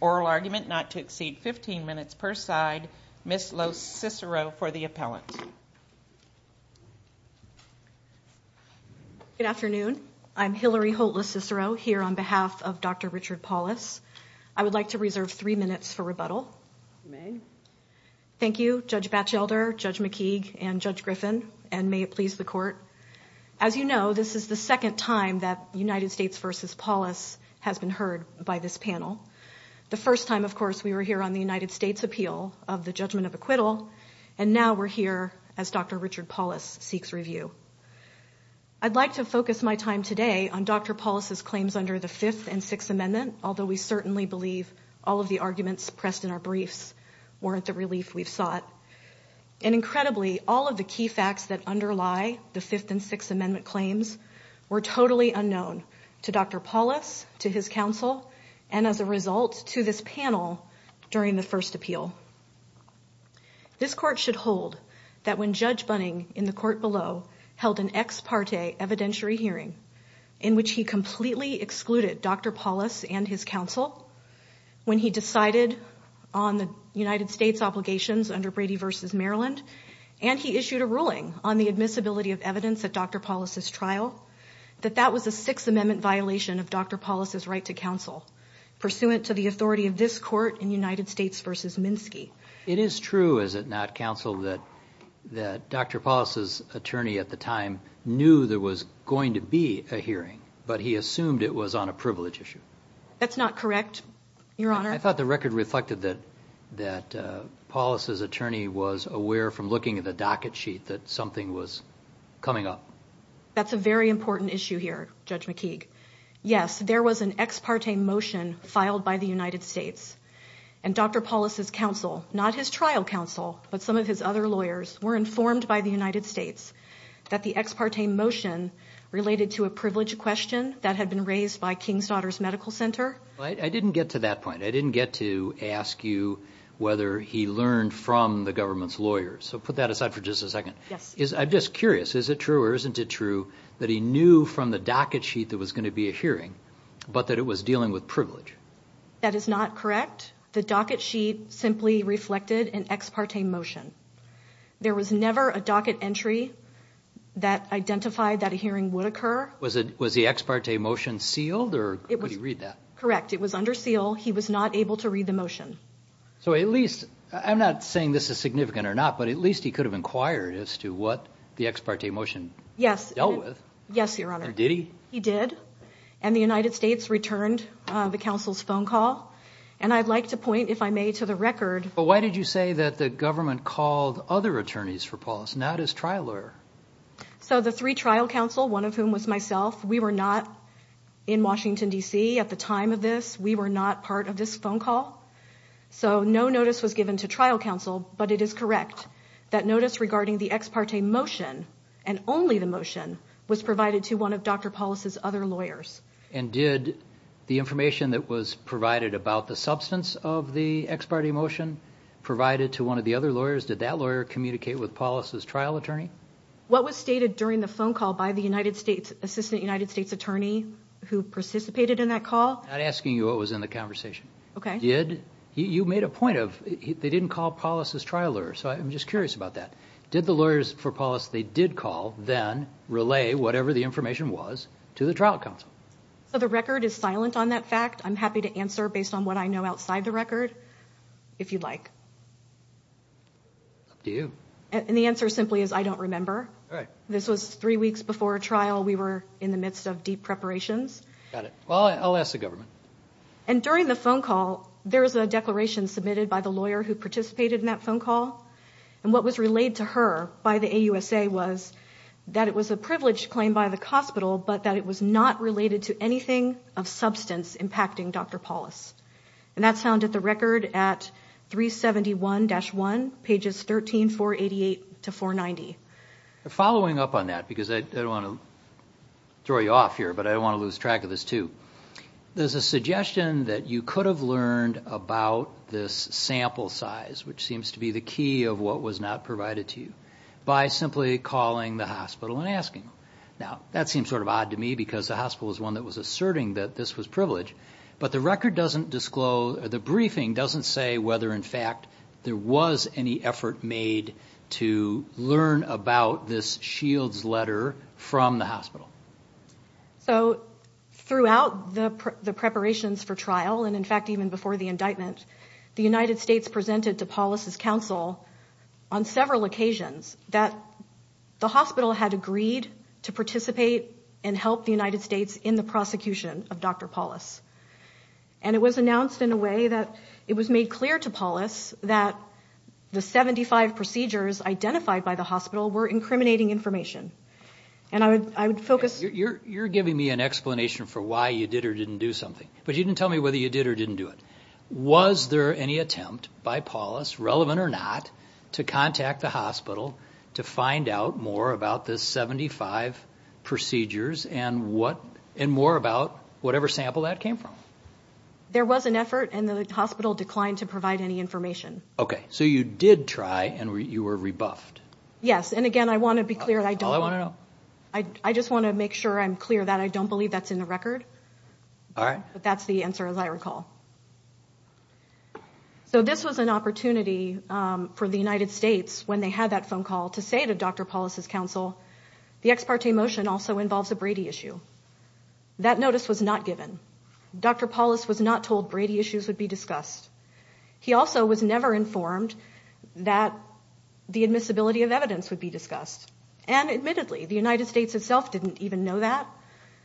oral argument not to exceed 15 minutes per side. Ms. Lo Cicero for the appellant. Good afternoon. I'm Hillary Holt Lo Cicero here on behalf of Dr. Richard Paulus. I would like to reserve three minutes for rebuttal. You may. Thank you, Judge Batchelder, Judge McKeague, and Judge Griffin, and may it please the court. As you can see, I have not been here. As you know, this is the second time that United States v. Paulus has been heard by this panel. The first time, of course, we were here on the United States appeal of the judgment of acquittal, and now we're here as Dr. Richard Paulus seeks review. I'd like to focus my time today on Dr. Paulus's claims under the Fifth and Sixth Amendment, although we certainly believe all of the arguments pressed in our briefs weren't the relief we've sought. And incredibly, all of the key facts that underlie the Fifth and Sixth Amendment claims were totally unknown to Dr. Paulus, to his counsel, and as a result to this panel during the first appeal. This court should hold that when Judge Bunning in the court below held an ex parte evidentiary hearing in which he completely excluded Dr. Paulus and his counsel, when he decided on the United States obligations under Brady v. Maryland, and he issued a ruling on the admissibility of evidence at Dr. Paulus's trial, that that was a Sixth Amendment violation of Dr. Paulus's right to counsel, pursuant to the authority of this court in United States v. Minsky. It is true, is it not, counsel, that Dr. Paulus's attorney at the time knew there was going to be a hearing, but he assumed it was on a privilege issue? That's not correct, Your Honor. I thought the record reflected that Paulus's attorney was aware from looking at the docket sheet that something was coming up. That's a very important issue here, Judge McKeague. Yes, there was an ex parte motion filed by the United States, and Dr. Paulus's counsel, not his trial counsel, but some of his other lawyers, were informed by the United States that the ex parte motion related to a privilege question that had been raised by King's Daughters Medical Center. I didn't get to that point. I didn't get to ask you whether he learned from the government's lawyers. So put that aside for just a second. Yes. I'm just curious, is it true or isn't it true that he knew from the docket sheet there was going to be a hearing, but that it was dealing with privilege? That is not correct. The docket sheet simply reflected an ex parte motion. There was never a docket entry that identified that a hearing would occur. Was the ex parte motion sealed or could he read that? Correct. It was under seal. He was not able to read the motion. So at least, I'm not saying this is significant or not, but at least he could have inquired as to what the ex parte motion dealt with. Yes, Your Honor. Or did he? He did. And the United States returned the counsel's phone call. And I'd like to point, if I may, to the record. But why did you say that the government called other attorneys for Paulus, not his trial lawyer? So the three trial counsel, one of whom was myself, we were not in Washington, D.C. at the time of this. We were not part of this phone call. So no notice was given to trial counsel, but it is correct that notice regarding the ex parte motion and only the motion was provided to one of Dr. Paulus's other lawyers. And did the information that was provided about the substance of the ex parte motion provided to one of the other lawyers? Did that lawyer communicate with Paulus's trial attorney? What was stated during the phone call by the assistant United States attorney who participated in that call? I'm not asking you what was in the conversation. Okay. You made a point of they didn't call Paulus's trial lawyer, so I'm just curious about that. Did the lawyers for Paulus they did call then relay whatever the information was to the trial counsel? So the record is I'm happy to answer based on what I know outside the record if you'd like. Up to you. And the answer simply is I don't remember. All right. This was three weeks before a trial. We were in the midst of deep preparations. Got it. Well, I'll ask the government. And during the phone call, there was a declaration submitted by the lawyer who participated in that phone call. And what was relayed to her by the AUSA was that it was a privileged claim by the hospital, but that it was not related to anything of substance impacting Dr. Paulus. And that's found at the record at 371-1, pages 13488 to 490. Following up on that, because I don't want to throw you off here, but I don't want to lose track of this too. There's a suggestion that you could have learned about this sample size, which seems to be the key of what was not provided to you by simply calling the hospital and asking. Now, that seems sort of odd to me because the hospital is one that was asserting that this was privileged, but the record doesn't disclose, the briefing doesn't say whether in fact there was any effort made to learn about this Shields letter from the hospital. So throughout the preparations for trial, and in fact, even before the indictment, the United States presented to Paulus's counsel on several occasions that the hospital had agreed to participate and help the United States in the prosecution of Dr. Paulus. And it was announced in a way that it was made clear to Paulus that the 75 procedures identified by the hospital were incriminating information. And I would focus... You're giving me an explanation for why you did or didn't do something, but you didn't tell me whether you did or didn't do it. Was there any attempt by Paulus, relevant or not, to contact the hospital to find out more about the 75 procedures and more about whatever sample that came from? There was an effort and the hospital declined to provide any information. Okay, so you did try and you were rebuffed. Yes, and again, I want to be clear that I don't... All I want to know. I just want to make sure I'm clear that I don't believe that's in the record. All right. But that's the answer, as I recall. So this was an opportunity for the United States when they had that phone call to say to Dr. Paulus's counsel, the ex parte motion also involves a Brady issue. That notice was not given. Dr. Paulus was not told Brady issues would be discussed. He also was never informed that the admissibility of evidence would be discussed. And admittedly, the United States itself didn't even know that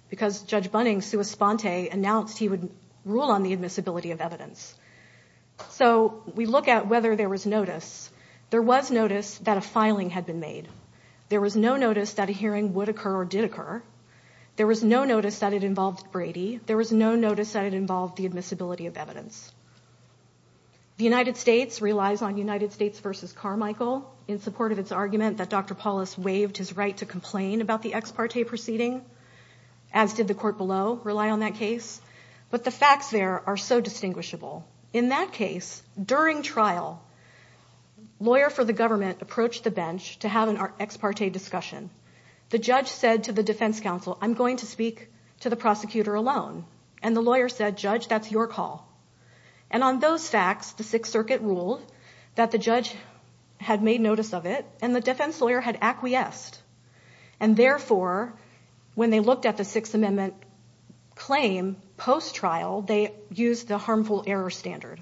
because Judge Bunning, of sua sponte, announced he would rule on the admissibility of evidence. So we look at whether there was notice. There was notice that a filing had been made. There was no notice that a hearing would occur or did occur. There was no notice that it involved Brady. There was no notice that it involved the admissibility of evidence. The United States relies on United States versus Carmichael in support of its argument that Dr. Paulus waived his right to complain about the ex parte proceeding, as did the court below rely on that case. But the facts there are so distinguishable. In that case, during trial, lawyer for the government approached the bench to have an ex parte discussion. The judge said to the defense counsel, I'm going to speak to the prosecutor alone. And the lawyer said, Judge, that's your call. And on those facts, the Sixth Circuit ruled that the judge had made notice of it and the defense lawyer had acquiesced. And therefore, when they looked at the Sixth Amendment claim post-trial, they used the harmful error standard.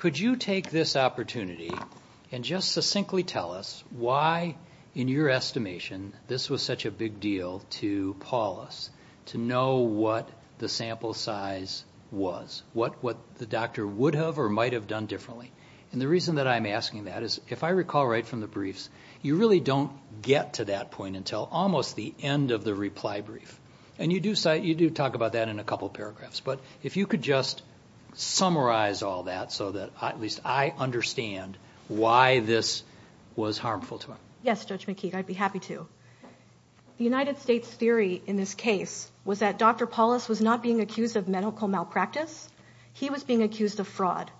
Could you take this opportunity and just succinctly tell us why in your estimation this was such a big deal to Paulus, to know what the sample size was, what the doctor would have or might have done differently? And the reason that I'm asking that is if I recall right from the briefs, you really don't get to that point until almost the end of the reply brief. And you do talk about that in a couple paragraphs. But if you could just summarize all that so that at least I understand why this was harmful to him. Yes, Judge McKeague, I'd be happy to. The United States theory in this case was that Dr. Paulus was not being accused of medical malpractice. He was being accused of fraud.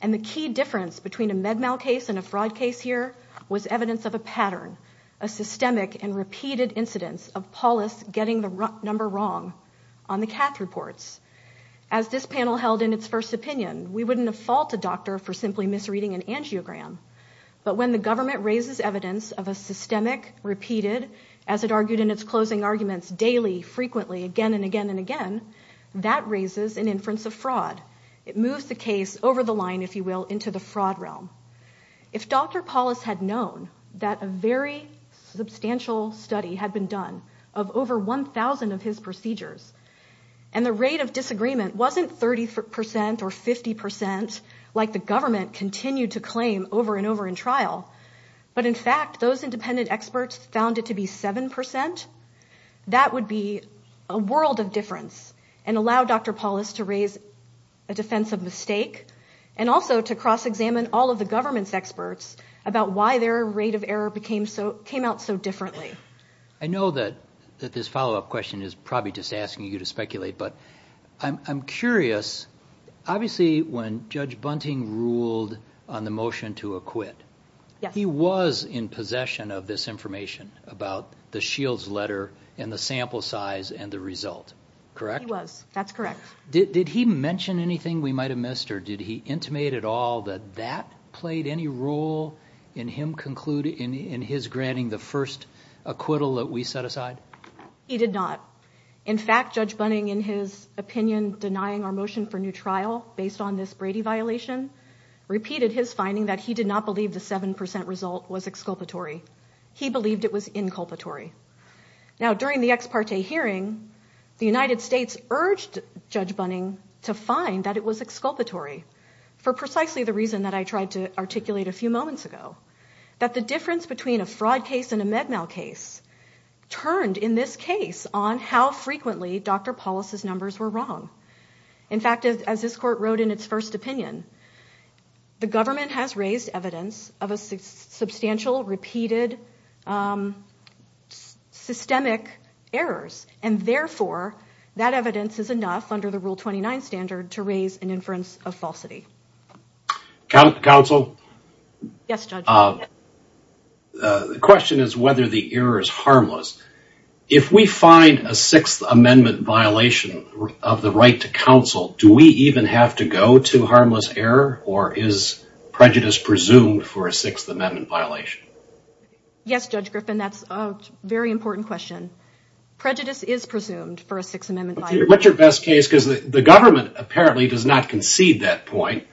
And the key difference between a med mal case and a fraud case here was evidence of a pattern, a systemic and repeated incidence of Paulus getting the number wrong on the cath reports. As this panel held in its first opinion, we wouldn't fault a doctor for simply misreading an angiogram. But when the government raises evidence of a systemic, repeated, as it argued in its closing arguments, daily, frequently, again and again and again, that raises an inference of fraud. It moves the case over the line, if you will, into the fraud realm. If Dr. Paulus had known that a very substantial study had been done of over 1,000 of his procedures, and the rate of disagreement wasn't 30% or 50% like the government continued to claim over and over in trial, but in fact those independent experts found it to be 7%, that would be a world of difference and allow Dr. Paulus to raise a defense of mistake and also to cross-examine all of the government's experts about why their rate of error came out so differently. I know that this follow-up question is probably just asking you to speculate, but I'm curious, obviously when Judge Bunting ruled on the motion to acquit, he was in possession of this information about the Shields letter and the sample size and the result, correct? He was, that's correct. Did he mention anything we might have missed or did he intimate at all that that played any role in his granting the first acquittal that we set aside? He did not. In fact, Judge Bunting, in his opinion, denying our motion for new trial based on this Brady violation, repeated his finding that he did not believe the 7% result was exculpatory. He believed it was inculpatory. Now, during the ex parte hearing, the United States urged Judge Bunting to find that it was exculpatory for precisely the reason that I tried to articulate a few moments ago, that the difference between a fraud case and a med mal case turned in this case on how frequently Dr. Paulus's numbers were wrong. In fact, as this court wrote in its first opinion, the government has raised evidence of a substantial repeated systemic errors and therefore that evidence is enough under the Rule 29 standard to raise an inference of falsity. Counsel? Yes, Judge. The question is whether the error is harmless. If we find a Sixth Amendment violation of the right to counsel, do we even have to go to harmless error or is prejudice presumed for a Sixth Amendment violation? Yes, Judge Griffin, that's a very important question. Prejudice is presumed for a Sixth Amendment violation. What's your best case? Because the government apparently does not concede that point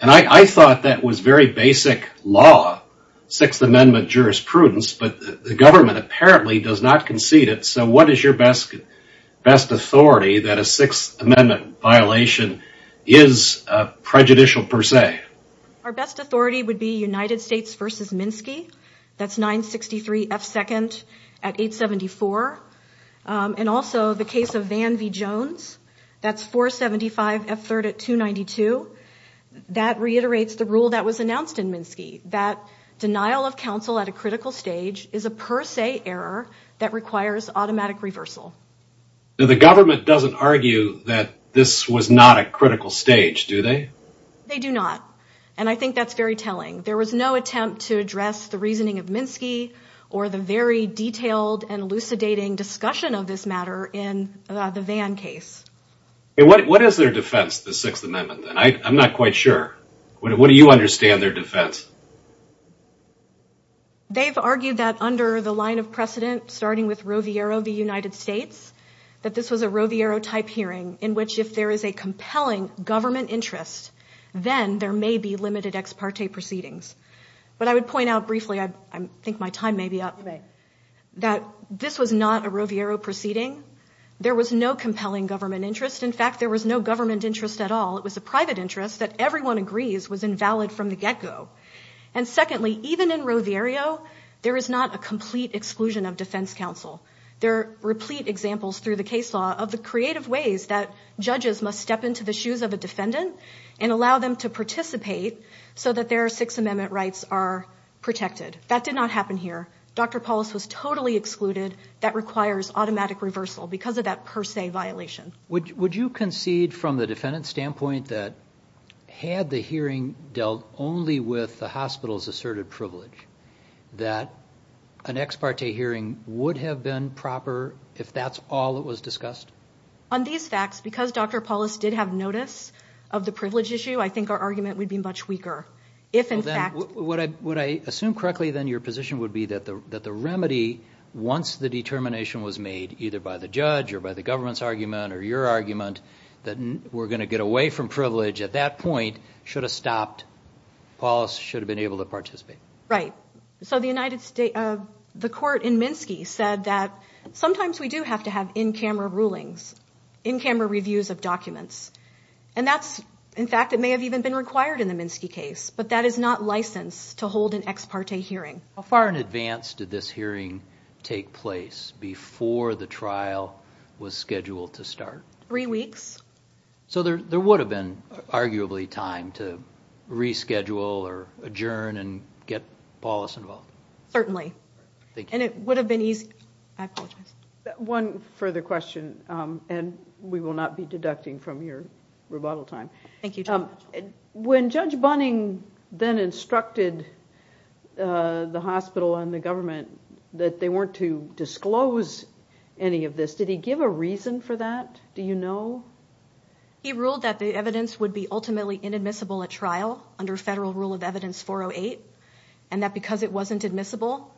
and I thought that was very basic law, Sixth Amendment jurisprudence, but the government apparently does not concede it, so what is your best authority that a Sixth Amendment violation is prejudicial per se? Our best authority would be United States v. Minsky. That's 963 F2nd at 874. And also the case of Van v. Jones. That's 475 F3rd at 292. That reiterates the rule that was announced in Minsky, that denial of counsel at a critical stage is a per se error that requires automatic reversal. The government doesn't argue that this was not a critical stage, do they? They do not, and I think that's very telling. There was no attempt to address the reasoning of Minsky or the very detailed and elucidating discussion of this matter in the Van case. What is their defense of the Sixth Amendment? I'm not quite sure. What do you understand their defense? They've argued that under the line of precedent, starting with Roviero v. United States, that this was a Roviero-type hearing, in which if there is a compelling government interest, then there may be limited ex parte proceedings. But I would point out briefly, I think my time may be up, that this was not a Roviero proceeding. There was no compelling government interest. In fact, there was no government interest at all. It was a private interest that everyone agrees was invalid from the get-go. And secondly, even in Roviero, there is not a complete exclusion of defense counsel. There are replete examples through the case law of the creative ways that judges must step into the shoes of a defendant and allow them to participate so that their Sixth Amendment rights are protected. That did not happen here. Dr. Paulos was totally excluded. That requires automatic reversal because of that per se violation. Would you concede from the defendant's standpoint that had the hearing dealt only with the hospital's asserted privilege, that an ex parte hearing would have been proper if that's all that was discussed? On these facts, because Dr. Paulos did have notice of the privilege issue, I think our argument would be much weaker. Would I assume correctly, then, your position would be that the remedy, once the determination was made, either by the judge or by the government's argument or your argument, that we're going to get away from privilege at that point, should have stopped? Paulos should have been able to participate. Right. So the court in Minsky said that sometimes we do have to have in-camera rulings, in-camera reviews of documents. And that's, in fact, it may have even been required in the Minsky case, but that is not licensed to hold an ex parte hearing. How far in advance did this hearing take place before the trial was scheduled to start? Three weeks. So there would have been, arguably, time to reschedule or adjourn and get Paulos involved. Certainly. And it would have been easy. I apologize. One further question, and we will not be deducting from your rebuttal time. Thank you, Judge. When Judge Bunning then instructed the hospital and the government that they weren't to disclose any of this, did he give a reason for that? Do you know? He ruled that the evidence would be ultimately inadmissible at trial under Federal Rule of Evidence 408, and that because it wasn't admissible,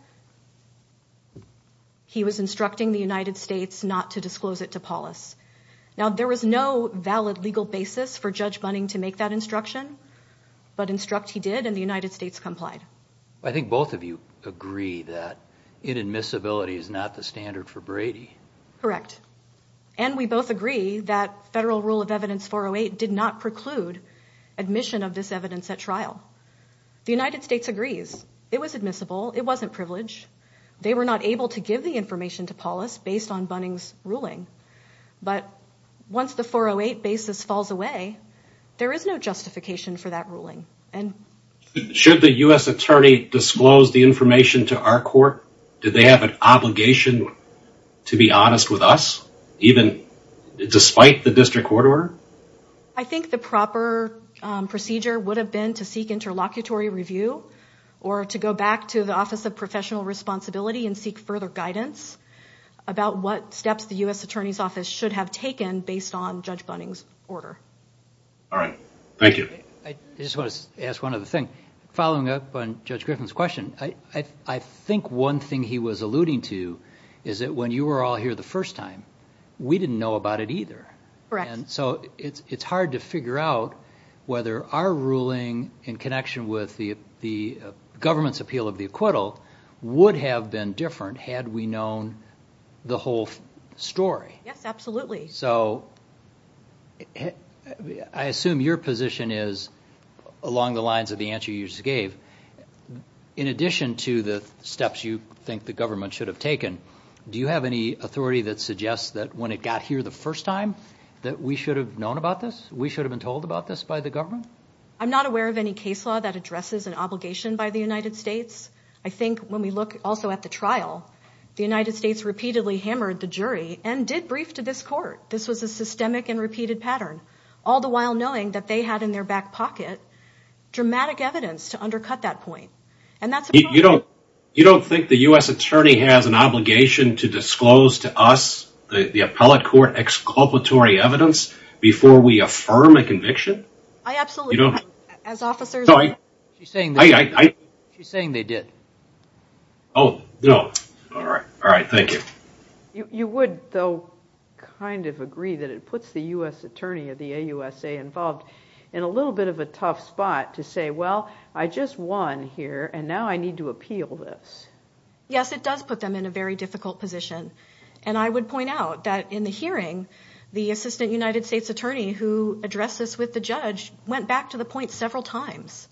he was instructing the United States not to disclose it to Paulos. Now, there was no valid legal basis for Judge Bunning to make that instruction, but instruct he did, and the United States complied. I think both of you agree that inadmissibility is not the standard for Brady. Correct. And we both agree that Federal Rule of Evidence 408 did not preclude admission of this evidence at trial. The United States agrees. It was admissible. It wasn't privileged. They were not able to give the information to Paulos based on Bunning's ruling. But once the 408 basis falls away, there is no justification for that ruling. Should the U.S. attorney disclose the information to our court? Did they have an obligation to be honest with us, even despite the district court order? I think the proper procedure would have been to seek interlocutory review or to go back to the Office of Professional Responsibility and seek further guidance about what steps the U.S. Attorney's Office should have taken based on Judge Bunning's order. All right. Thank you. I just want to ask one other thing. Following up on Judge Griffin's question, I think one thing he was alluding to is that when you were all here the first time, we didn't know about it either. Correct. So it's hard to figure out whether our ruling in connection with the government's appeal of the acquittal would have been different had we known the whole story. Yes, absolutely. So I assume your position is along the lines of the answer you just gave. In addition to the steps you think the government should have taken, do you have any authority that suggests that when it got here the first time that we should have known about this? We should have been told about this by the government? I'm not aware of any case law that addresses an obligation by the United States. I think when we look also at the trial, the United States repeatedly hammered the jury and did brief to this court. This was a systemic and repeated pattern, all the while knowing that they had in their back pocket dramatic evidence to undercut that point. You don't think the U.S. attorney has an obligation to disclose to us the appellate court exculpatory evidence before we affirm a conviction? I absolutely don't. She's saying they did. Oh, no. All right, thank you. You would, though, kind of agree that it puts the U.S. attorney of the AUSA involved in a little bit of a tough spot to say, well, I just won here, and now I need to appeal this. Yes, it does put them in a very difficult position, and I would point out that in the hearing, the assistant United States attorney who addressed this with the judge went back to the point several times,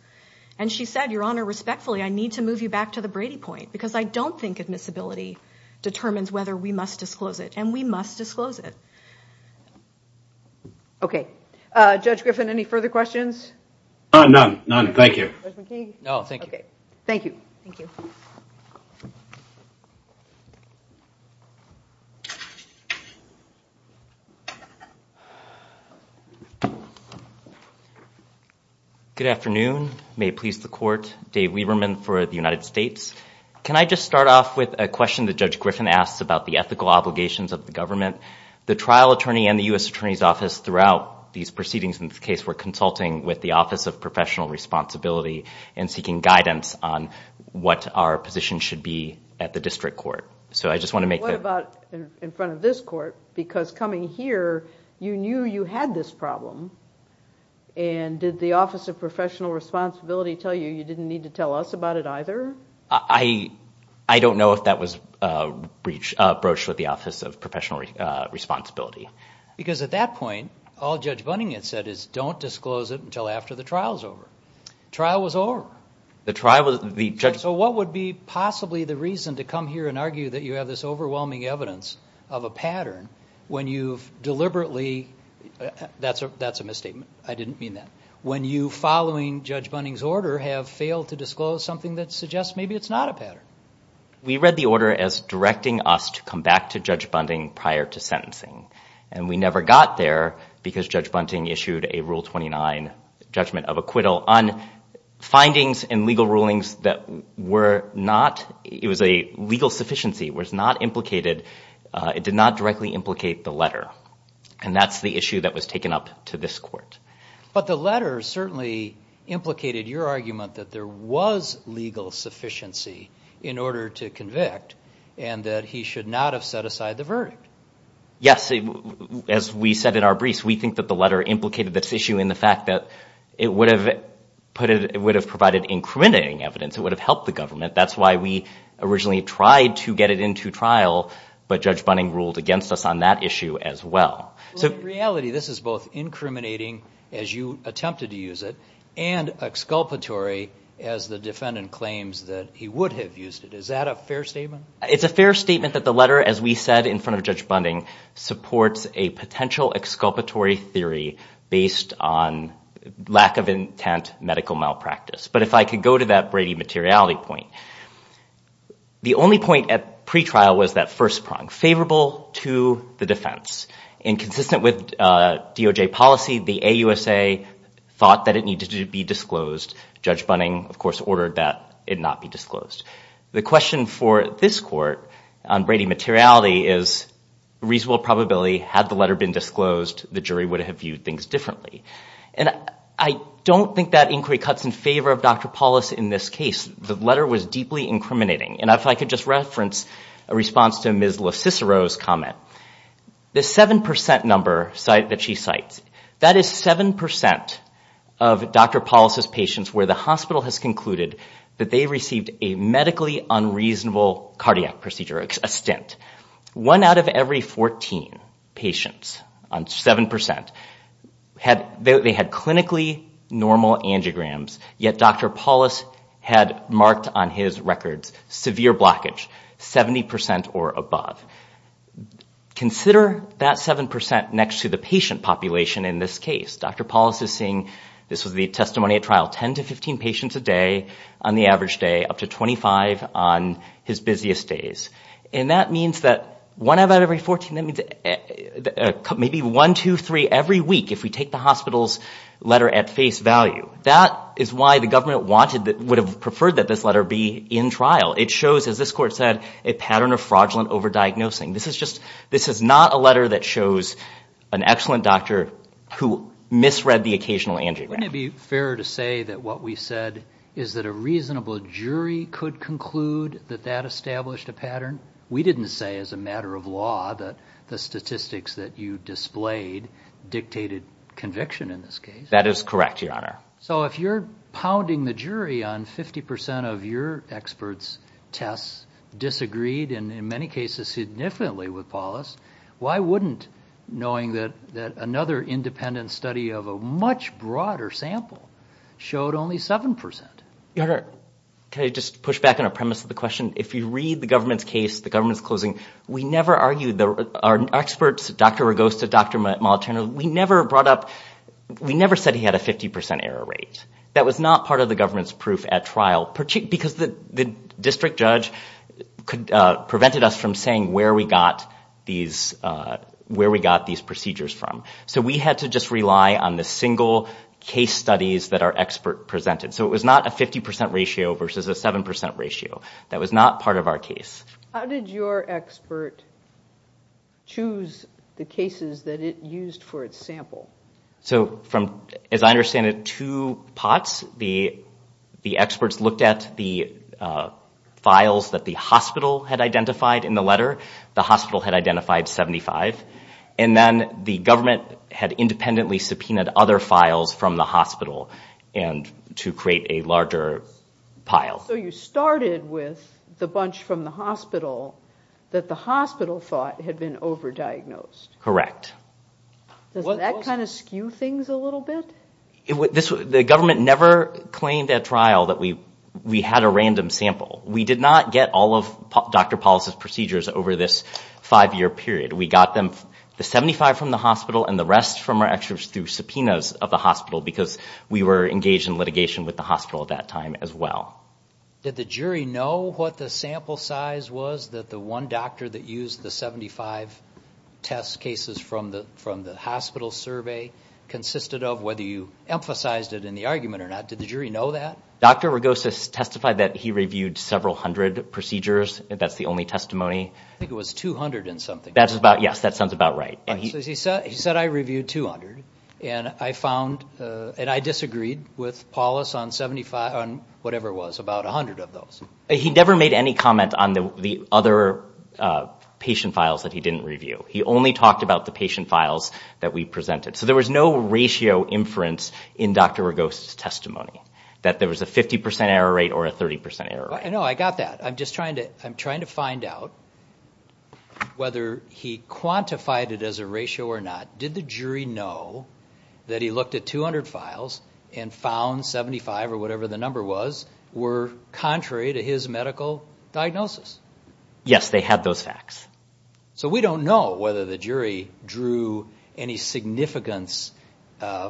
and she said, Your Honor, respectfully, I need to move you back to the Brady point because I don't think admissibility determines whether we must disclose it, and we must disclose it. Okay. Judge Griffin, any further questions? None, none. Thank you. Judge McKee? No, thank you. Okay. Thank you. Thank you. Good afternoon. May it please the court. Dave Weberman for the United States. Can I just start off with a question that Judge Griffin asks about the ethical obligations of the government? The trial attorney and the U.S. Attorney's Office throughout these proceedings in this case were consulting with the Office of Professional Responsibility and seeking guidance on what our position should be at the district court. So I just want to make the... What about in front of this court? Because coming here, you knew you had this problem, and did the Office of Professional Responsibility tell you you didn't need to tell us about it either? I don't know if that was broached with the Office of Professional Responsibility. Because at that point, all Judge Bunning had said is don't disclose it until after the trial's over. The trial was over. The trial was... So what would be possibly the reason to come here and argue that you have this overwhelming evidence of a pattern when you've deliberately... That's a misstatement. I didn't mean that. When you, following Judge Bunning's order, have failed to disclose something that suggests maybe it's not a pattern. We read the order as directing us to come back to Judge Bunning prior to sentencing. And we never got there because Judge Bunning issued a Rule 29 judgment of acquittal on findings in legal rulings that were not... It was a legal sufficiency, was not implicated... It did not directly implicate the letter. And that's the issue that was taken up to this court. But the letter certainly implicated your argument that there was legal sufficiency in order to convict and that he should not have set aside the verdict. Yes. As we said in our briefs, we think that the letter implicated this issue in the fact that it would have provided incriminating evidence. It would have helped the government. That's why we originally tried to get it into trial, but Judge Bunning ruled against us on that issue as well. In reality, this is both incriminating, as you attempted to use it, and exculpatory as the defendant claims that he would have used it. Is that a fair statement? It's a fair statement that the letter, as we said in front of Judge Bunning, supports a potential exculpatory theory based on lack of intent medical malpractice. But if I could go to that Brady materiality point, the only point at pretrial was that first prong, favorable to the defense. And consistent with DOJ policy, the AUSA thought that it needed to be disclosed. Judge Bunning, of course, ordered that it not be disclosed. The question for this court on Brady materiality is reasonable probability, had the letter been disclosed, the jury would have viewed things differently. And I don't think that inquiry cuts in favor of Dr. Paulus in this case. The letter was deeply incriminating. And if I could just reference a response to Ms. LoCicero's comment. The 7% number that she cites, that is 7% of Dr. Paulus's patients where the hospital has concluded that they received a medically unreasonable cardiac procedure, a stint. One out of every 14 patients on 7%, they had clinically normal angiograms, yet Dr. Paulus had marked on his records severe blockage, 70% or above. Consider that 7% next to the patient population in this case. Dr. Paulus is seeing, this was the testimony at trial, 10 to 15 patients a day on the average day, up to 25 on his busiest days. And that means that one out of every 14, that means maybe one, two, three every week if we take the hospital's letter at face value. That is why the government wanted, would have preferred that this letter be in trial. It shows, as this court said, a pattern of fraudulent over-diagnosing. This is not a letter that shows an excellent doctor who misread the occasional angiogram. Wouldn't it be fair to say that what we said is that a reasonable jury could conclude that that established a pattern? We didn't say as a matter of law that the statistics that you displayed dictated conviction in this case. That is correct, Your Honor. So if you're pounding the jury on 50% of your experts' tests, disagreed, and in many cases, significantly with Paulus, why wouldn't, knowing that another independent study of a much broader sample showed only 7%? Your Honor, can I just push back on a premise of the question? If you read the government's case, the government's closing, we never argued. Our experts, Dr. Rogosta, Dr. Molitorno, we never brought up, we never said he had a 50% error rate. That was not part of the government's proof at trial, because the district judge prevented us from saying where we got these procedures from. So we had to just rely on the single case studies that our expert presented. So it was not a 50% ratio versus a 7% ratio. That was not part of our case. How did your expert choose the cases that it used for its sample? So from, as I understand it, two pots. The experts looked at the files that the hospital had identified in the letter. The hospital had identified 75. And then the government had independently subpoenaed other files from the hospital to create a larger pile. So you started with the bunch from the hospital that the hospital thought had been over-diagnosed. Correct. Does that kind of skew things a little bit? The government never claimed at trial that we had a random sample. We did not get all of Dr. Paul's procedures over this five-year period. We got them, the 75 from the hospital and the rest from our experts through subpoenas of the hospital because we were engaged in litigation with the hospital at that time as well. Did the jury know what the sample size was that the one doctor that used the 75 test cases from the hospital survey consisted of, whether you emphasized it in the argument or not? Did the jury know that? Dr. Rogosis testified that he reviewed several hundred procedures. That's the only testimony. I think it was 200 and something. Yes, that sounds about right. He said, I reviewed 200 and I disagreed with Paulus on whatever it was, about 100 of those. He never made any comment on the other patient files that he didn't review. He only talked about the patient files that we presented. So there was no ratio inference in Dr. Rogosis' testimony that there was a 50% error rate or a 30% error rate. No, I got that. I'm just trying to find out whether he quantified it as a ratio or not. Did the jury know that he looked at 200 files and found 75 or whatever the number was were contrary to his medical diagnosis? Yes, they had those facts. So we don't know whether the jury drew any significance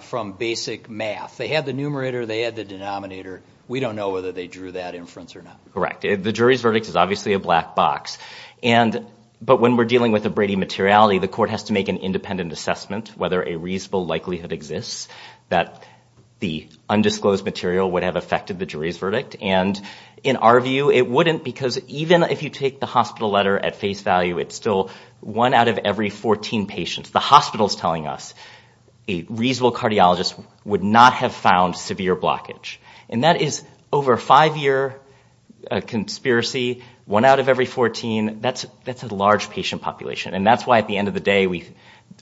from basic math. They had the numerator. They had the denominator. We don't know whether they drew that inference or not. Correct. The jury's verdict is obviously a black box. But when we're dealing with a Brady materiality, the court has to make an independent assessment whether a reasonable likelihood exists that the undisclosed material would have affected the jury's verdict. And in our view, it wouldn't because even if you take the hospital letter at face value, it's still one out of every 14 patients. The hospital's telling us a reasonable cardiologist would not have found severe blockage. And that is over a five-year conspiracy, one out of every 14, that's a large patient population. And that's why at the end of the day,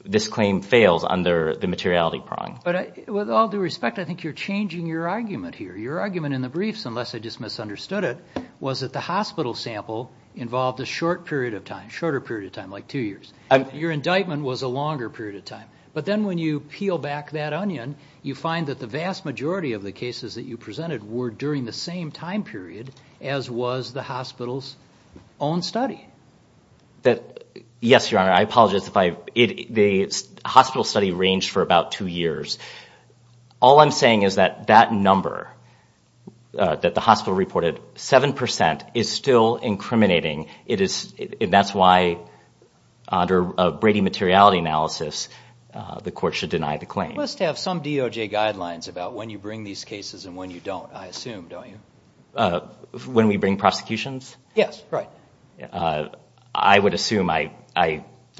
this claim fails under the materiality prong. But with all due respect, I think you're changing your argument here. Your argument in the briefs, unless I just misunderstood it, was that the hospital sample involved a short period of time, shorter period of time, like two years. Your indictment was a longer period of time. But then when you peel back that onion, you find that the vast majority of the cases that you presented were during the same time period as was the hospital's own study. Yes, Your Honor. I apologize. The hospital study ranged for about two years. All I'm saying is that that number that the hospital reported, 7%, is still incriminating. That's why under a Brady materiality analysis, the court should deny the claim. You must have some DOJ guidelines about when you bring these cases and when you don't. I assume, don't you? When we bring prosecutions? Yes, right. I would assume.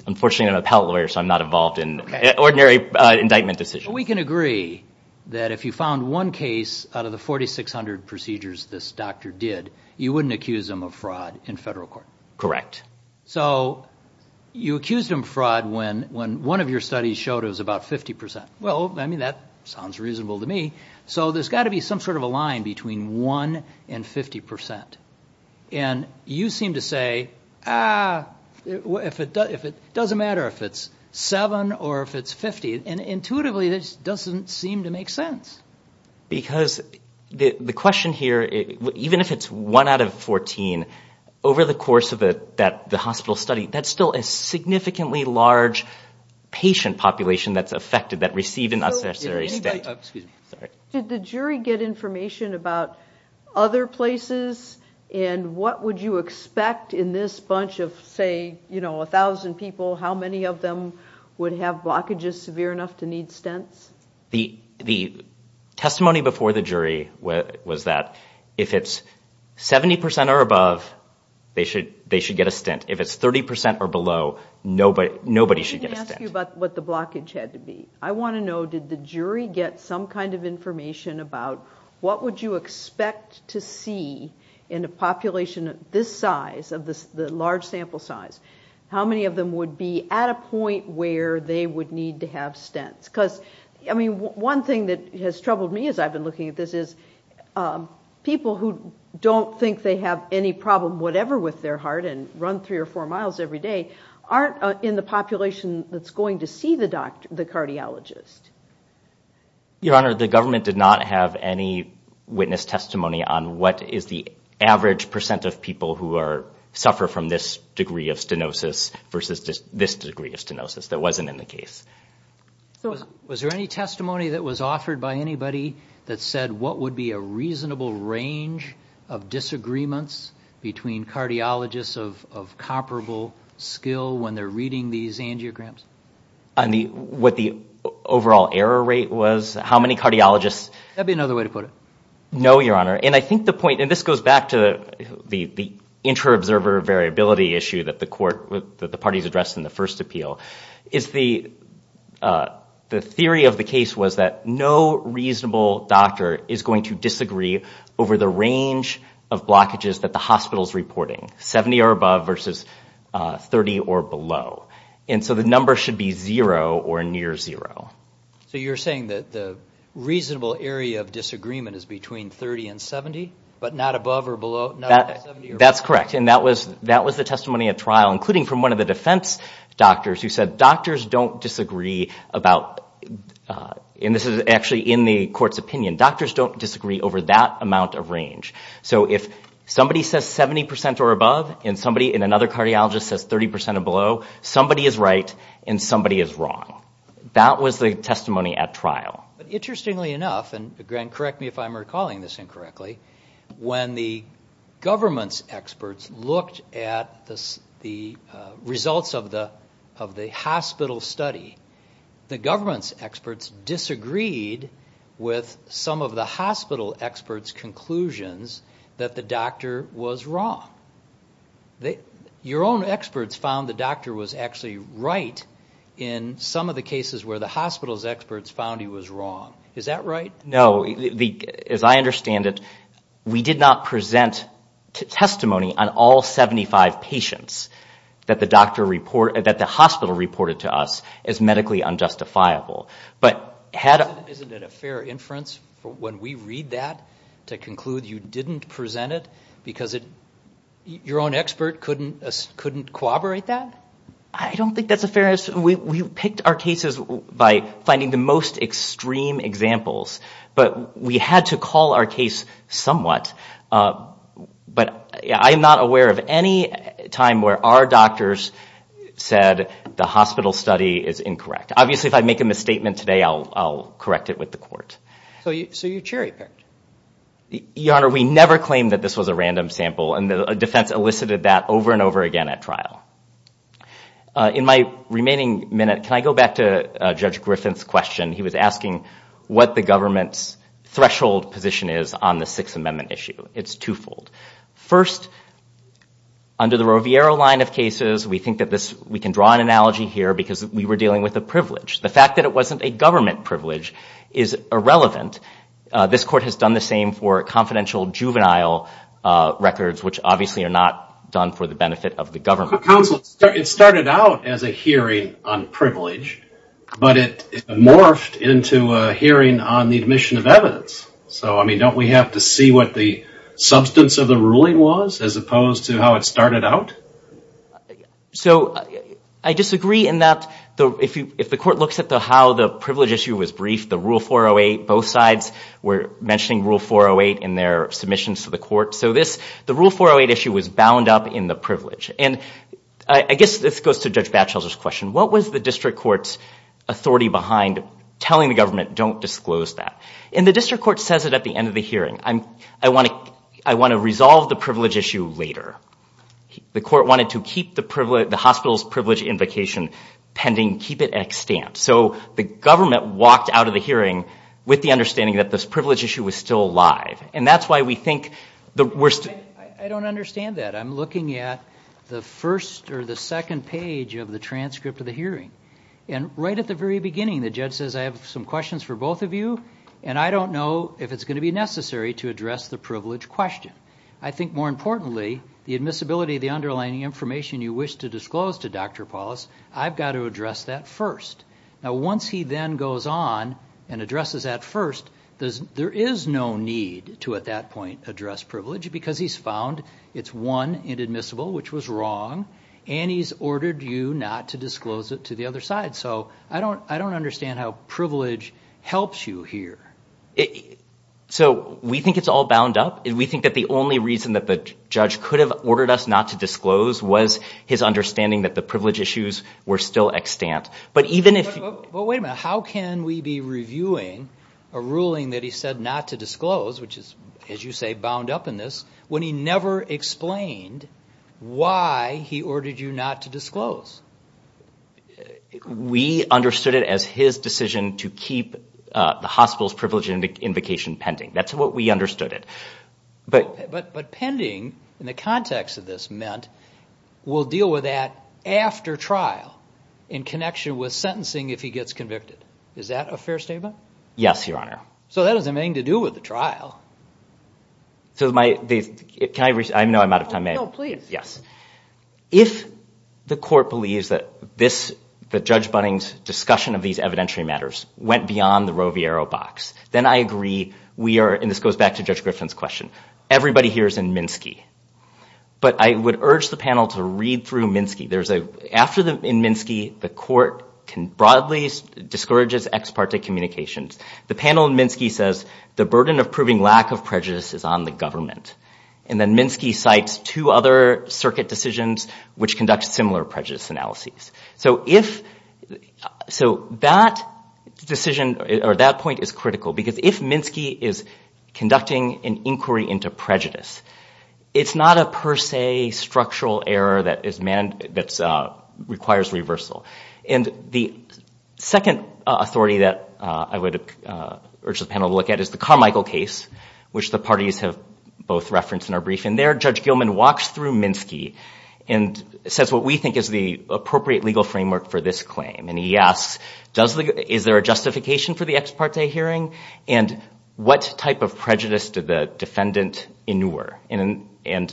Unfortunately, I'm a appellate lawyer, so I'm not involved in ordinary indictment decisions. We can agree that if you found one case out of the 4,600 procedures this doctor did, you wouldn't accuse him of fraud in federal court. Correct. So you accused him of fraud when one of your studies showed it was about 50%. Well, I mean, that sounds reasonable to me. So there's got to be some sort of a line between 1% and 50%. And you seem to say, ah, it doesn't matter if it's 7% or if it's 50%. And intuitively, this doesn't seem to make sense. Because the question here, even if it's 1 out of 14, over the course of the hospital study, that's still a significantly large patient population that's affected, that receive an unnecessary stint. Excuse me. Sorry. Did the jury get information about other places? And what would you expect in this bunch of, say, you know, 1,000 people, how many of them would have blockages severe enough to need stints? The testimony before the jury was that if it's 70% or above, they should get a stint. If it's 30% or below, nobody should get a stint. I didn't ask you about what the blockage had to be. I want to know, did the jury get some kind of information about what would you expect to see in a population this size, the large sample size, how many of them would be at a point where they would need to have stints? Because, I mean, one thing that has troubled me as I've been looking at this is people who don't think they have any problem whatever with their heart and run three or four miles every day aren't in the population that's going to see the cardiologist. Your Honor, the government did not have any witness testimony on what is the average percent of people who suffer from this degree of stenosis versus this degree of stenosis that wasn't in the case. Was there any testimony that was offered by anybody that said what would be a reasonable range of disagreements between cardiologists of comparable skill when they're reading these angiograms? On what the overall error rate was? How many cardiologists? That would be another way to put it. No, Your Honor. And I think the point, and this goes back to the intra-observer variability issue that the court, that the parties addressed in the first appeal, is the theory of the case was that no reasonable doctor is going to disagree over the range of blockages that the hospital's reporting, 70 or above versus 30 or below. And so the number should be zero or near zero. So you're saying that the reasonable area of disagreement is between 30 and 70, but not above or below, not 70 or below? That's correct. And that was the testimony at trial, including from one of the defense doctors who said doctors don't disagree about, and this is actually in the court's opinion, doctors don't disagree over that amount of range. So if somebody says 70% or above and another cardiologist says 30% or below, somebody is right and somebody is wrong. That was the testimony at trial. Interestingly enough, and correct me if I'm recalling this incorrectly, when the government's experts looked at the results of the hospital study, the government's experts disagreed with some of the hospital experts' conclusions that the doctor was wrong. Your own experts found the doctor was actually right in some of the cases where the hospital's experts found he was wrong. Is that right? No. As I understand it, we did not present testimony on all 75 patients that the hospital reported to us as medically unjustifiable. Isn't it a fair inference when we read that to conclude you didn't present it because your own expert couldn't corroborate that? I don't think that's a fair inference. We picked our cases by finding the most extreme examples, but we had to call our case somewhat. But I'm not aware of any time where our doctors said the hospital study is incorrect. Obviously, if I make a misstatement today, I'll correct it with the court. So you cherry-picked. Your Honor, we never claimed that this was a random sample, and the defense elicited that over and over again at trial. In my remaining minute, can I go back to Judge Griffin's question? He was asking what the government's threshold position is on the Sixth Amendment issue. It's twofold. First, under the Roviero line of cases, we think that this... We can draw an analogy here because we were dealing with a privilege. The fact that it wasn't a government privilege is irrelevant. This court has done the same for confidential juvenile records, which obviously are not done for the benefit of the government. Counsel, it started out as a hearing on privilege, but it morphed into a hearing on the admission of evidence. So, I mean, don't we have to see what the substance of the ruling was as opposed to how it started out? So I disagree in that if the court looks at how the privilege issue was briefed, the Rule 408, both sides were mentioning Rule 408 in their submissions to the court. So the Rule 408 issue was bound up in the privilege. And I guess this goes to Judge Batchelder's question. What was the district court's authority behind telling the government don't disclose that? And the district court says it at the end of the hearing. I want to resolve the privilege issue later. The court wanted to keep the hospital's privilege invocation pending, keep it at a stand. So the government walked out of the hearing with the understanding that this privilege issue was still alive. And that's why we think the worst... I don't understand that. I'm looking at the first or the second page of the transcript of the hearing. And right at the very beginning, the judge says, I have some questions for both of you, and I don't know if it's going to be necessary to address the privilege question. I think, more importantly, the admissibility of the underlying information you wish to disclose to Dr. Paulus, I've got to address that first. Now, once he then goes on and addresses that first, there is no need to, at that point, address privilege because he's found it's, one, inadmissible, which was wrong, and he's ordered you not to disclose it to the other side. So I don't understand how privilege helps you here. So we think it's all bound up. We think that the only reason that the judge could have ordered us not to disclose was his understanding that the privilege issues were still extant. But even if... But wait a minute. How can we be reviewing a ruling that he said not to disclose, which is, as you say, bound up in this, when he never explained why he ordered you not to disclose? We understood it as his decision to keep the hospital's privilege invocation pending. That's what we understood it. But pending, in the context of this, meant we'll deal with that after trial in connection with sentencing if he gets convicted. Is that a fair statement? Yes, Your Honor. So that doesn't mean to do with the trial. So my... Can I... No, I'm out of time. No, please. Yes. If the court believes that this, that Judge Bunning's discussion of these evidentiary matters went beyond the Roe v. Arrow box, then I agree we are... And this goes back to Judge Griffin's question. Everybody here is in Minsky. But I would urge the panel to read through Minsky. There's a... After in Minsky, the court can broadly discourage its ex parte communications. The panel in Minsky says, the burden of proving lack of prejudice is on the government. And then Minsky cites two other circuit decisions which conduct similar prejudice analyses. So if... So that decision or that point is critical because if Minsky is conducting an inquiry into prejudice, it's not a per se structural error that is... That requires reversal. And the second authority that I would urge the panel to look at is the Carmichael case, which the parties have both referenced in our briefing. There, Judge Gilman walks through Minsky and says what we think is the appropriate legal framework for this claim. And he asks, is there a justification for the ex parte hearing? And what type of prejudice did the defendant inure? And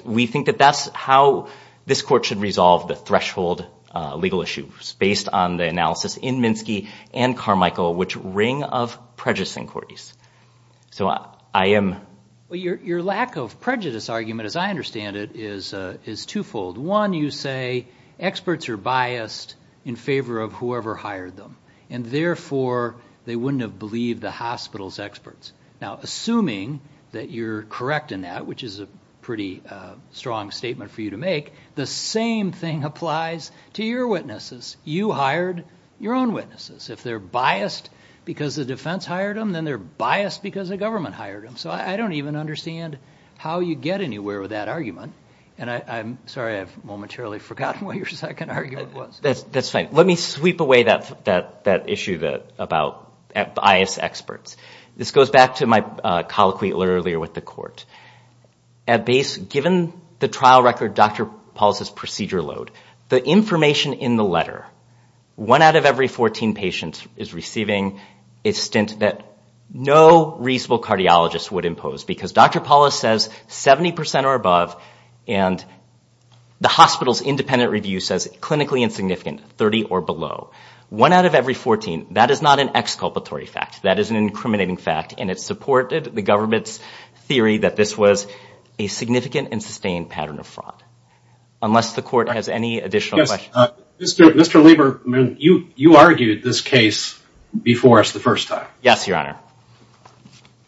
we think that that's how this court should resolve the threshold legal issues based on the analysis in Minsky and Carmichael which ring of prejudice inquiries. So I am... Well, your lack of prejudice argument, as I understand it, is twofold. One, you say experts are biased in favor of whoever hired them. And therefore, they wouldn't have believed the hospital's experts. Now, assuming that you're correct in that, which is a pretty strong statement for you to make, the same thing applies to your witnesses. You hired your own witnesses. If they're biased because the defense hired them, then they're biased because the government hired them. So I don't even understand how you get anywhere with that argument. And I'm sorry, I've momentarily forgotten what your second argument was. That's fine. Let me sweep away that issue about biased experts. This goes back to my colloquy earlier with the court. At base, given the trial record, Dr. Paulus's procedure load, the information in the letter, one out of every 14 patients is receiving a stint that no reasonable cardiologist would impose because Dr. Paulus says 70% or above and the hospital's independent review says clinically insignificant, 30 or below. One out of every 14, that is not an exculpatory fact. That is an incriminating fact and it supported the government's theory that this was a significant and sustained pattern of fraud. Unless the court has any additional questions. Yes, Mr. Lieberman, you argued this case before us the first time. Yes, Your Honor.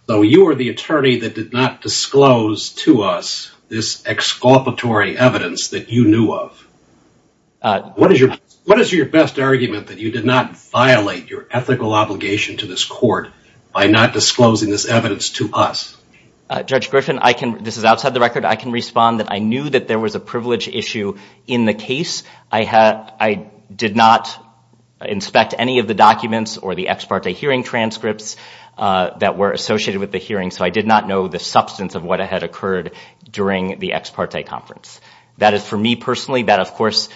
So you are the attorney that did not disclose to us this exculpatory evidence that you knew of. What is your best argument that you did not violate your ethical obligation to this court by not disclosing this evidence to us? Judge Griffin, this is outside the record, I can respond that I knew that there was a privilege issue in the case. I did not inspect any of the documents or the ex parte hearing transcripts that were associated with the hearing so I did not know the substance of what had occurred during the ex parte conference. That is for me personally, that of course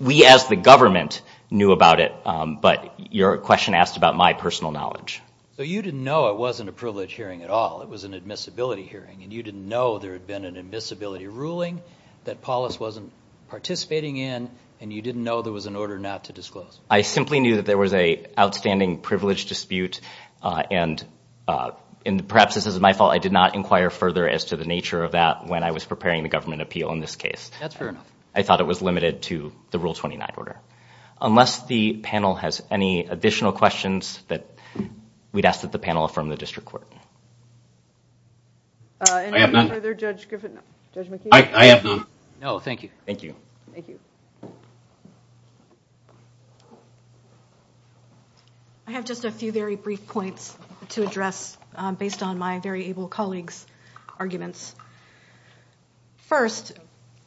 we as the government knew about it but your question asked about my personal knowledge. So you didn't know it wasn't a privilege hearing at all, it was an admissibility hearing and you didn't know there had been an admissibility ruling that Paulus wasn't participating in and you didn't know there was an order not to disclose. I simply knew that there was an outstanding privilege dispute and perhaps this is my fault, I did not inquire further as to the nature of that when I was preparing the government appeal in this case. That's fair enough. I thought it was limited to the Rule 29 order. Unless the panel has any additional questions that we'd ask that the panel affirm the district court. I have none. Judge McKee? I have none. No, thank you. Thank you. Thank you. I have just a few very brief points to address based on my very able colleague's arguments. First,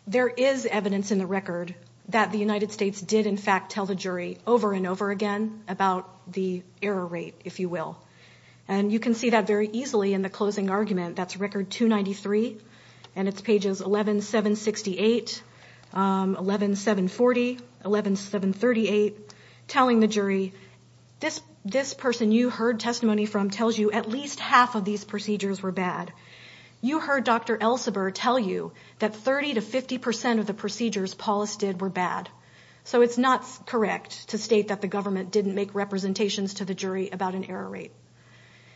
there is evidence in the record that the United States did in fact tell the jury over and over again about the error rate, if you will. And you can see that very easily in the closing argument. That's Record 293 and it's pages 11768, 11740, 11738, telling the jury, this person you heard testimony from tells you at least half of these procedures were bad. You heard Dr. Elseberg tell you that 30% to 50% of the procedures Paulus did were bad. So it's not correct to state that the government didn't make representations to the jury about an error rate.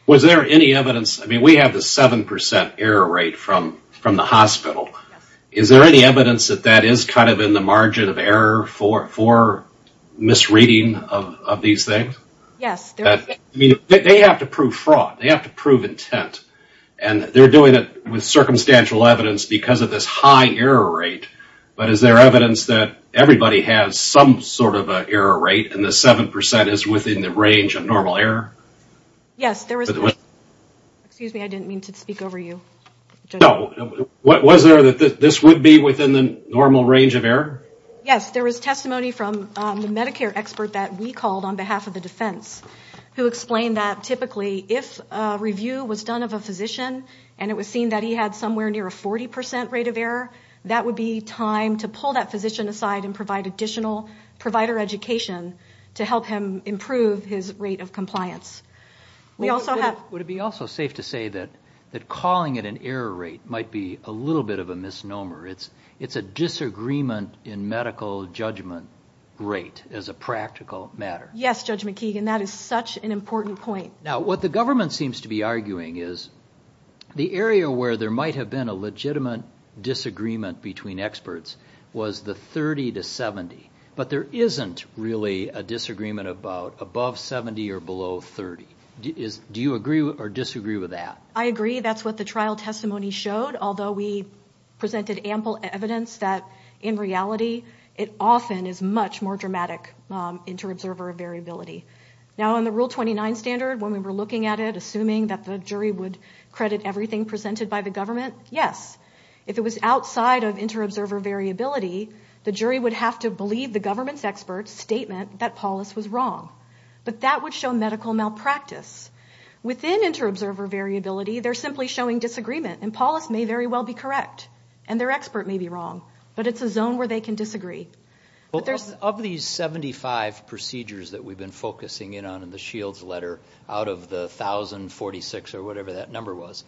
Was there any evidence, I mean we have the 7% error rate from the hospital. Is there any evidence that that is kind of in the margin of error for misreading of these things? Yes. They have to prove fraud. They have to prove intent. And they're doing it with circumstantial evidence because of this high error rate. But is there evidence that everybody has some sort of an error rate and the 7% is within the range of normal error? Yes. Excuse me, I didn't mean to speak over you. No. Was there that this would be within the normal range of error? Yes. There was testimony from the Medicare expert that we called on behalf of the defense who explained that typically if a review was done of a physician and it was seen that he had somewhere near a 40% rate of error, that would be time to pull that physician aside and provide additional provider education to help him improve his rate of compliance. Would it be also safe to say that calling it an error rate might be a little bit of a misnomer? It's a disagreement in medical judgment rate as a practical matter. Yes, Judge McKeegan, that is such an important point. Now what the government seems to be arguing is the area where there might have been a legitimate disagreement between experts was the 30 to 70, but there isn't really a disagreement about above 70 or below 30. Do you agree or disagree with that? I agree. That's what the trial testimony showed, although we presented ample evidence that in reality it often is much more dramatic inter-observer variability. Now on the Rule 29 standard, when we were looking at it, were we assuming that the jury would credit everything presented by the government? Yes. If it was outside of inter-observer variability, the jury would have to believe the government's expert's statement that Paulus was wrong, but that would show medical malpractice. Within inter-observer variability, they're simply showing disagreement, and Paulus may very well be correct and their expert may be wrong, but it's a zone where they can disagree. Of these 75 procedures that we've been focusing in on in the Shields letter out of the 1,046 or whatever that number was,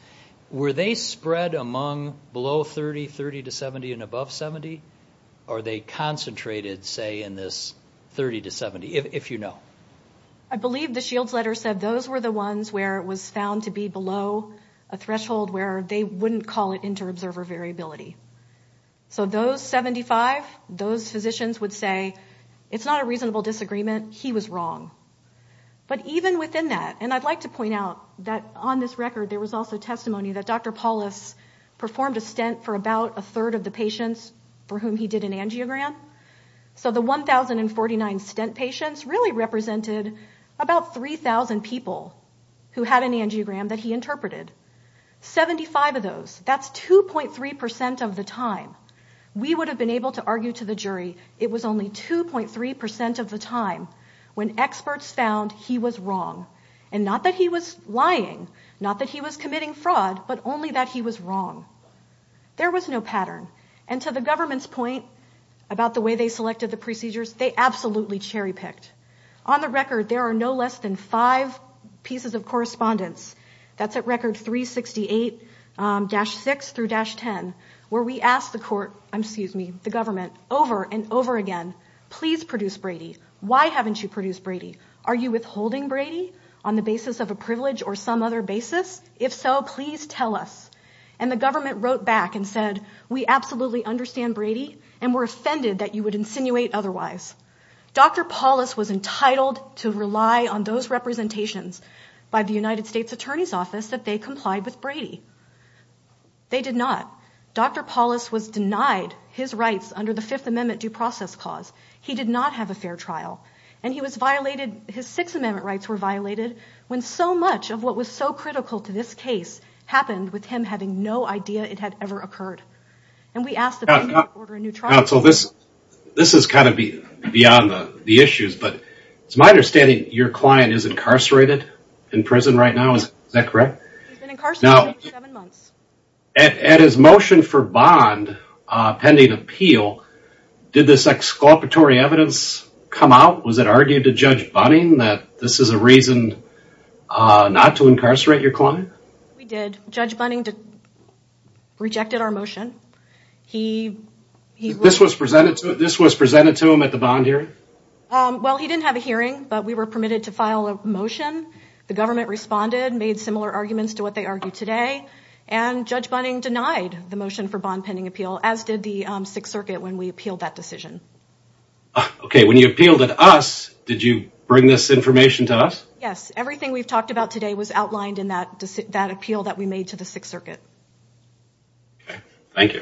were they spread among below 30, 30 to 70, and above 70, or are they concentrated, say, in this 30 to 70, if you know? I believe the Shields letter said those were the ones where it was found to be below a threshold where they wouldn't call it inter-observer variability. So those 75, those physicians would say, it's not a reasonable disagreement, he was wrong. But even within that, and I'd like to point out that on this record there was also testimony that Dr. Paulus performed a stent for about a third of the patients for whom he did an angiogram. So the 1,049 stent patients really represented about 3,000 people who had an angiogram that he interpreted. 75 of those, that's 2.3% of the time, we would have been able to argue to the jury it was only 2.3% of the time when experts found he was wrong, and not that he was lying, not that he was committing fraud, but only that he was wrong. There was no pattern, and to the government's point about the way they selected the procedures, they absolutely cherry-picked. On the record, there are no less than five pieces of correspondence, that's at record 368-6 through-10, where we asked the government over and over again, please produce Brady, why haven't you produced Brady? Are you withholding Brady on the basis of a privilege or some other basis? If so, please tell us. And the government wrote back and said, we absolutely understand Brady, and we're offended that you would insinuate otherwise. Dr. Paulus was entitled to rely on those representations by the United States Attorney's Office that they complied with Brady. They did not. Dr. Paulus was denied his rights under the Fifth Amendment due process clause. He did not have a fair trial. And he was violated, his Sixth Amendment rights were violated, when so much of what was so critical to this case happened with him having no idea it had ever occurred. And we asked the... Counsel, this is kind of beyond the issues, but it's my understanding your client is incarcerated in prison right now, is that correct? He's been incarcerated for seven months. At his motion for bond pending appeal, did this exculpatory evidence come out? Was it argued to Judge Bunning that this is a reason not to incarcerate your client? We did. Judge Bunning rejected our motion. He... This was presented to him at the bond hearing? The government responded, made similar arguments to what they argue today, and Judge Bunning denied the motion for bond pending appeal, as did the Sixth Circuit when we appealed that decision. Okay. When you appealed it to us, did you bring this information to us? Yes. Everything we've talked about today was outlined in that appeal that we made to the Sixth Circuit. Okay. Thank you.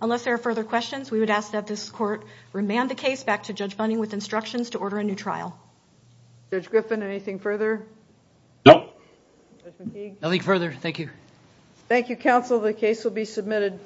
Unless there are further questions, we would ask that this court remand the case back to Judge Bunning with instructions to order a new trial. Judge Griffin, anything further? No. Nothing further. Thank you. Thank you, counsel. The case will be submitted.